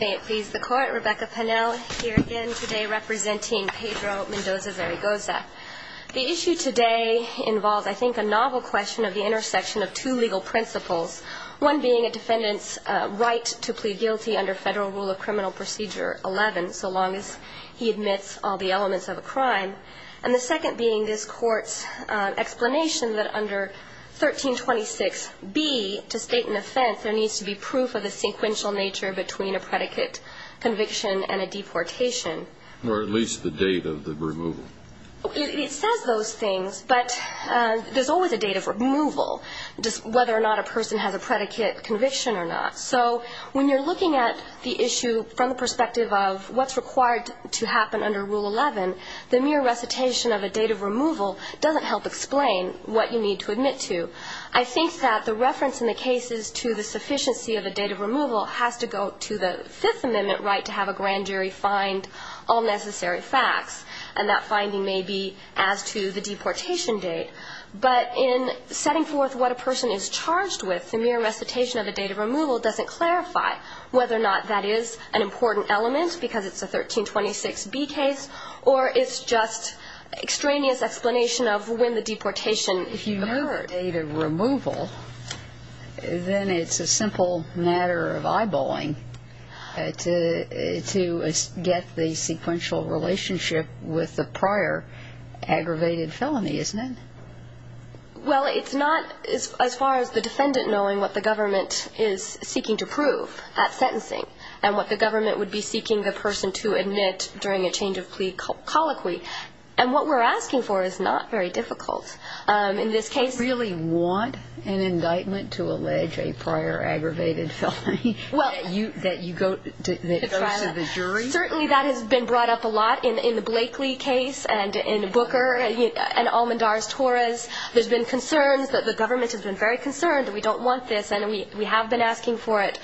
May it please the Court, Rebecca Pennell here again today representing Pedro Mendoza-Zaragoza. The issue today involves, I think, a novel question of the intersection of two legal principles, one being a defendant's right to plead guilty under Federal Rule of Criminal Procedure 11, so long as he admits all the elements of a crime, and the second being this Court's explanation that under 1326b, to state an offense, there needs to be proof of the sequential nature between a predicate conviction and a deportation. Or at least the date of the removal. It says those things, but there's always a date of removal, whether or not a person has a predicate conviction or not. So when you're looking at the issue from the perspective of what's required to happen under Rule 11, the mere recitation of a date of removal doesn't help explain what you need to admit to. I think that the reference in the case is to the sufficiency of a date of removal has to go to the Fifth Amendment right to have a grand jury find all necessary facts, and that finding may be as to the deportation date. But in setting forth what a person is charged with, the mere recitation of a date of removal doesn't clarify whether or not that is an important element because it's a 1326b case or it's just extraneous explanation of when the deportation occurred. If it's a date of removal, then it's a simple matter of eyeballing to get the sequential relationship with the prior aggravated felony, isn't it? Well, it's not as far as the defendant knowing what the government is seeking to prove at sentencing and what the government would be seeking the person to admit during a change of plea colloquy. And what we're asking for is not very difficult. Do you really want an indictment to allege a prior aggravated felony that goes to the jury? Certainly that has been brought up a lot in the Blakely case and in Booker and Almendar's, Torres. There's been concerns that the government has been very concerned that we don't want this, and we have been asking for it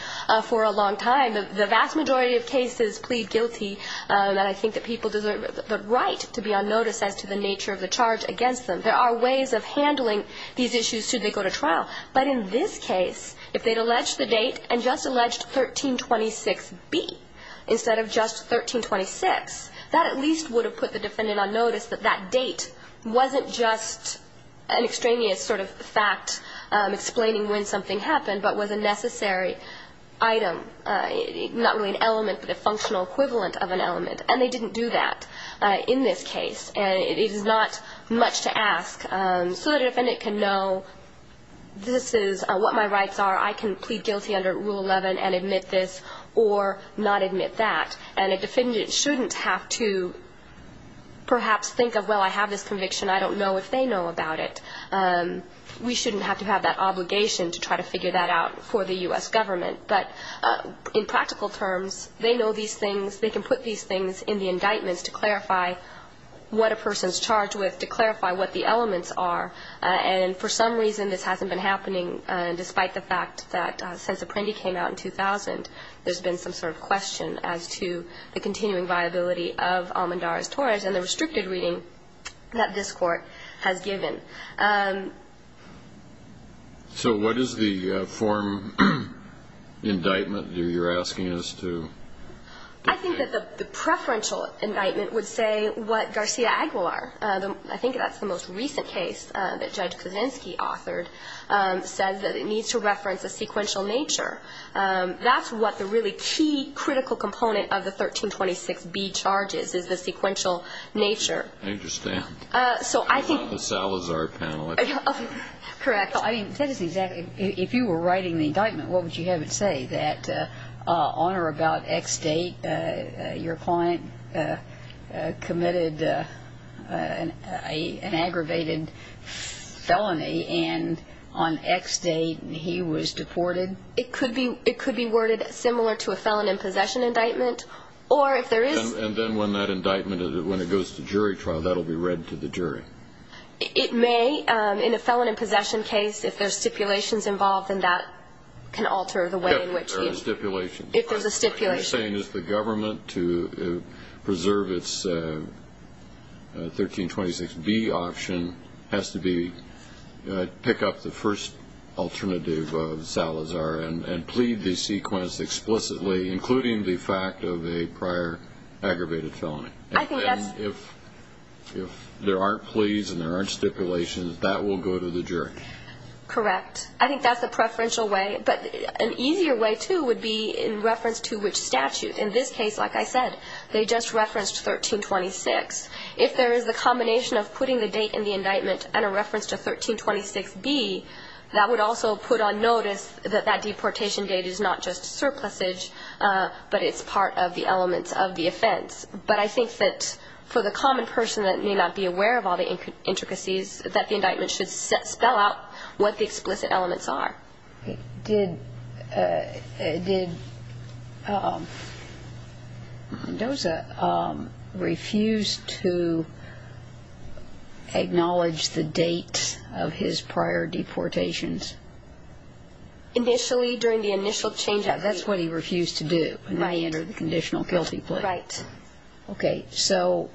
for a long time. The vast majority of cases plead guilty, and I think that people deserve the right to be on notice as to the nature of the charge against them. There are ways of handling these issues should they go to trial. But in this case, if they'd alleged the date and just alleged 1326B instead of just 1326, that at least would have put the defendant on notice that that date wasn't just an extraneous sort of fact explaining when something happened but was a necessary item, not really an element but a functional equivalent of an element. And they didn't do that in this case. And it is not much to ask so that a defendant can know this is what my rights are. I can plead guilty under Rule 11 and admit this or not admit that. And a defendant shouldn't have to perhaps think of, well, I have this conviction. I don't know if they know about it. We shouldn't have to have that obligation to try to figure that out for the U.S. government. But in practical terms, they know these things. They can put these things in the indictments to clarify what a person is charged with, to clarify what the elements are. And for some reason, this hasn't been happening, despite the fact that since Apprendi came out in 2000, there's been some sort of question as to the continuing viability of Almendarez-Torres and the restricted reading that this Court has given. So what is the form indictment you're asking us to do? I think that the preferential indictment would say what Garcia Aguilar, I think that's the most recent case that Judge Kuczynski authored, says that it needs to reference a sequential nature. That's what the really key critical component of the 1326B charges is, the sequential nature. Interesting. So I think the Salazar panel. Correct. I mean, that is exactly, if you were writing the indictment, what would you have it say, that on or about X date, your client committed an aggravated felony and on X date he was deported? It could be worded similar to a felon in possession indictment. And then when that indictment, when it goes to jury trial, that will be read to the jury? It may. In a felon in possession case, if there's stipulations involved, then that can alter the way in which he is. There are stipulations. If there's a stipulation. What you're saying is the government, to preserve its 1326B option, has to pick up the first alternative of Salazar and plead the sequence explicitly including the fact of a prior aggravated felony. I think that's. If there aren't pleas and there aren't stipulations, that will go to the jury. Correct. I think that's the preferential way. But an easier way, too, would be in reference to which statute. In this case, like I said, they just referenced 1326. If there is a combination of putting the date in the indictment and a reference to 1326B, that would also put on notice that that deportation date is not just surplusage, but it's part of the elements of the offense. But I think that for the common person that may not be aware of all the intricacies, that the indictment should spell out what the explicit elements are. Did Mendoza refuse to acknowledge the date of his prior deportations? Initially, during the initial change of date. That's what he refused to do when he entered the conditional guilty plea. Right. Okay. So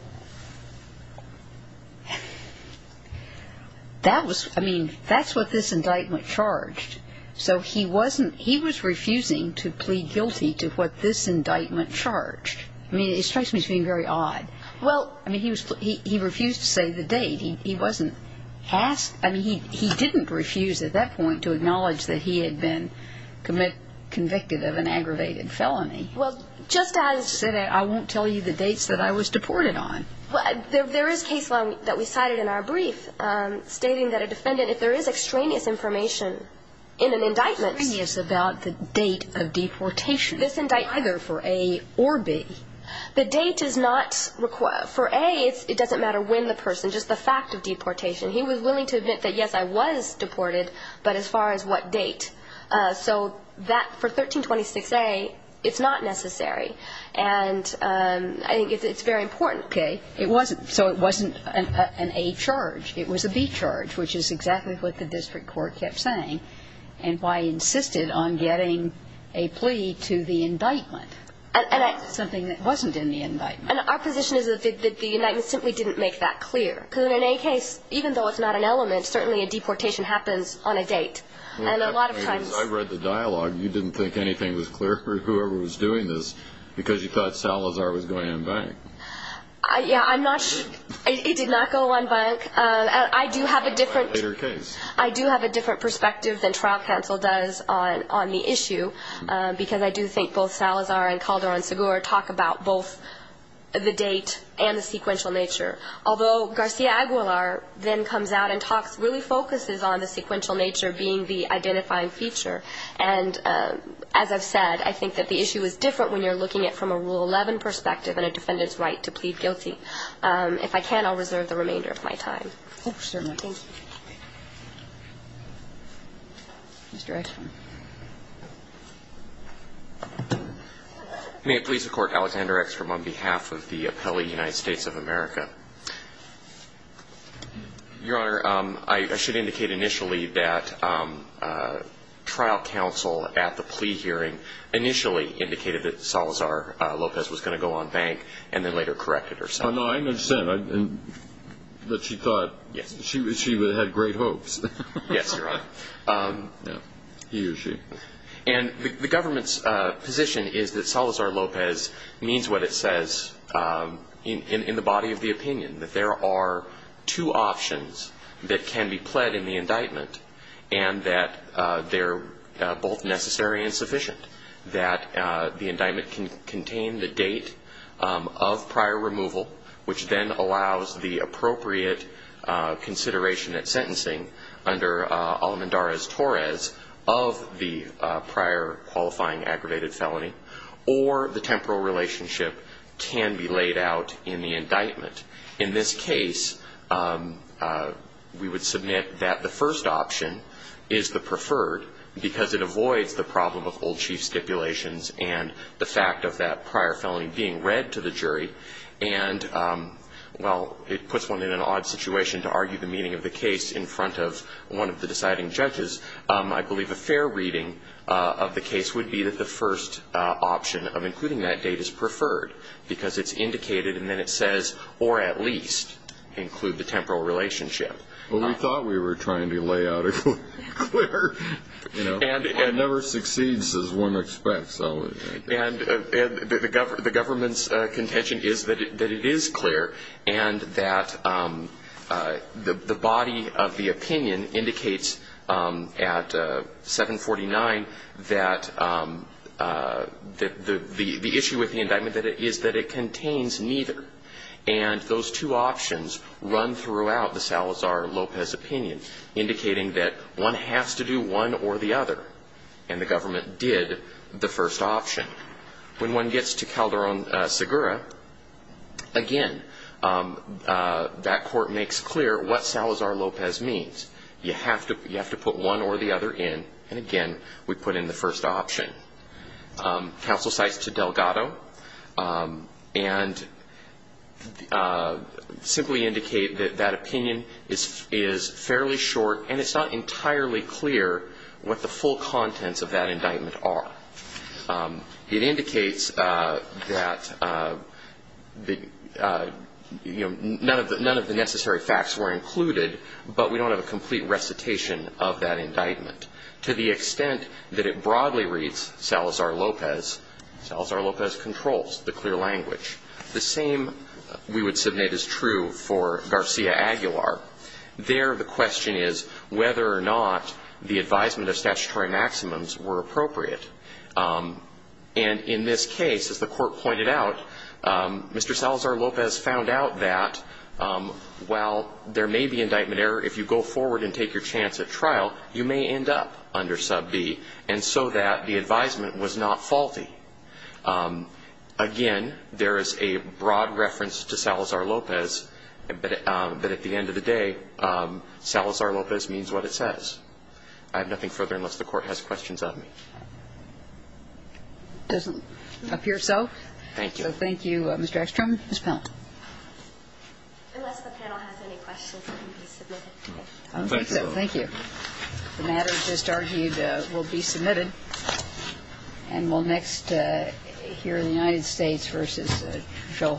that was, I mean, that's what this indictment charged. So he wasn't, he was refusing to plead guilty to what this indictment charged. I mean, it strikes me as being very odd. Well, I mean, he refused to say the date. He wasn't asked, I mean, he didn't refuse at that point to acknowledge that he had been convicted of an aggravated felony. Well, just as. He said, I won't tell you the dates that I was deported on. There is case law that we cited in our brief stating that a defendant, if there is extraneous information in an indictment. Extraneous about the date of deportation. This indictment. Either for A or B. The date is not, for A, it doesn't matter when the person, just the fact of deportation. He was willing to admit that, yes, I was deported, but as far as what date. So that, for 1326A, it's not necessary. And I think it's very important. Okay. It wasn't, so it wasn't an A charge. It was a B charge, which is exactly what the district court kept saying. And why he insisted on getting a plea to the indictment. Something that wasn't in the indictment. And our position is that the indictment simply didn't make that clear. Because in an A case, even though it's not an element, certainly a deportation happens on a date. And a lot of times. I read the dialogue. You didn't think anything was clear for whoever was doing this. Because you thought Salazar was going unbanked. Yeah, I'm not sure. It did not go unbanked. I do have a different. Later case. I do have a different perspective than trial counsel does on the issue. Because I do think both Salazar and Calderon-Segura talk about both the date and the sequential nature. Although Garcia-Aguilar then comes out and talks, really focuses on the sequential nature being the identifying feature. And as I've said, I think that the issue is different when you're looking at it from a Rule 11 perspective and a defendant's right to plead guilty. If I can, I'll reserve the remainder of my time. Oh, certainly. Thank you. Mr. Reichman. May it please the Court, Alexander X from on behalf of the appellee United States of America. Your Honor, I should indicate initially that trial counsel at the plea hearing initially indicated that Salazar Lopez was going to go unbanked and then later corrected herself. No, I understand. But she thought she had great hopes. Yes, Your Honor. He or she. And the government's position is that Salazar Lopez means what it says in the body of the opinion, that there are two options that can be pled in the indictment and that they're both necessary and sufficient. That the indictment can contain the date of prior removal, which then allows the appropriate consideration at sentencing under Almendarez-Torres of the prior qualifying aggravated felony, or the temporal relationship can be laid out in the indictment. In this case, we would submit that the first option is the preferred because it avoids the problem of old chief stipulations and the fact of that prior felony being read to the jury. And while it puts one in an odd situation to argue the meaning of the case in front of one of the deciding judges, I believe a fair reading of the case would be that the first option of including that date is preferred because it's indicated and then it says, or at least include the temporal relationship. Well, we thought we were trying to lay out a clear, you know. It never succeeds as one expects. And the government's contention is that it is clear and that the body of the opinion indicates at 749 that the issue with the indictment is that it contains neither. And those two options run throughout the Salazar-Lopez opinion, indicating that one has to do one or the other. And the government did the first option. When one gets to Calderón-Segura, again, that court makes clear what Salazar-Lopez means. You have to put one or the other in. And, again, we put in the first option. Counsel cites to Delgado and simply indicate that that opinion is fairly short and it's not entirely clear what the full contents of that indictment are. It indicates that, you know, none of the necessary facts were included, but we don't have a complete recitation of that indictment. To the extent that it broadly reads Salazar-Lopez, Salazar-Lopez controls the clear language. The same we would submit is true for Garcia-Aguilar. There the question is whether or not the advisement of statutory maximums were appropriate. And in this case, as the Court pointed out, Mr. Salazar-Lopez found out that while there may be indictment error, if you go forward and take your chance at trial, you may end up under sub B. And so that the advisement was not faulty. Again, there is a broad reference to Salazar-Lopez, but at the end of the day, Salazar-Lopez means what it says. I have nothing further unless the Court has questions of me. Doesn't appear so. Thank you. So thank you, Mr. Eckstrom. Ms. Pellant. Unless the panel has any questions, I can be submitted. I don't think so. Thank you. The matter just argued will be submitted. And we'll next hear the United States versus show off.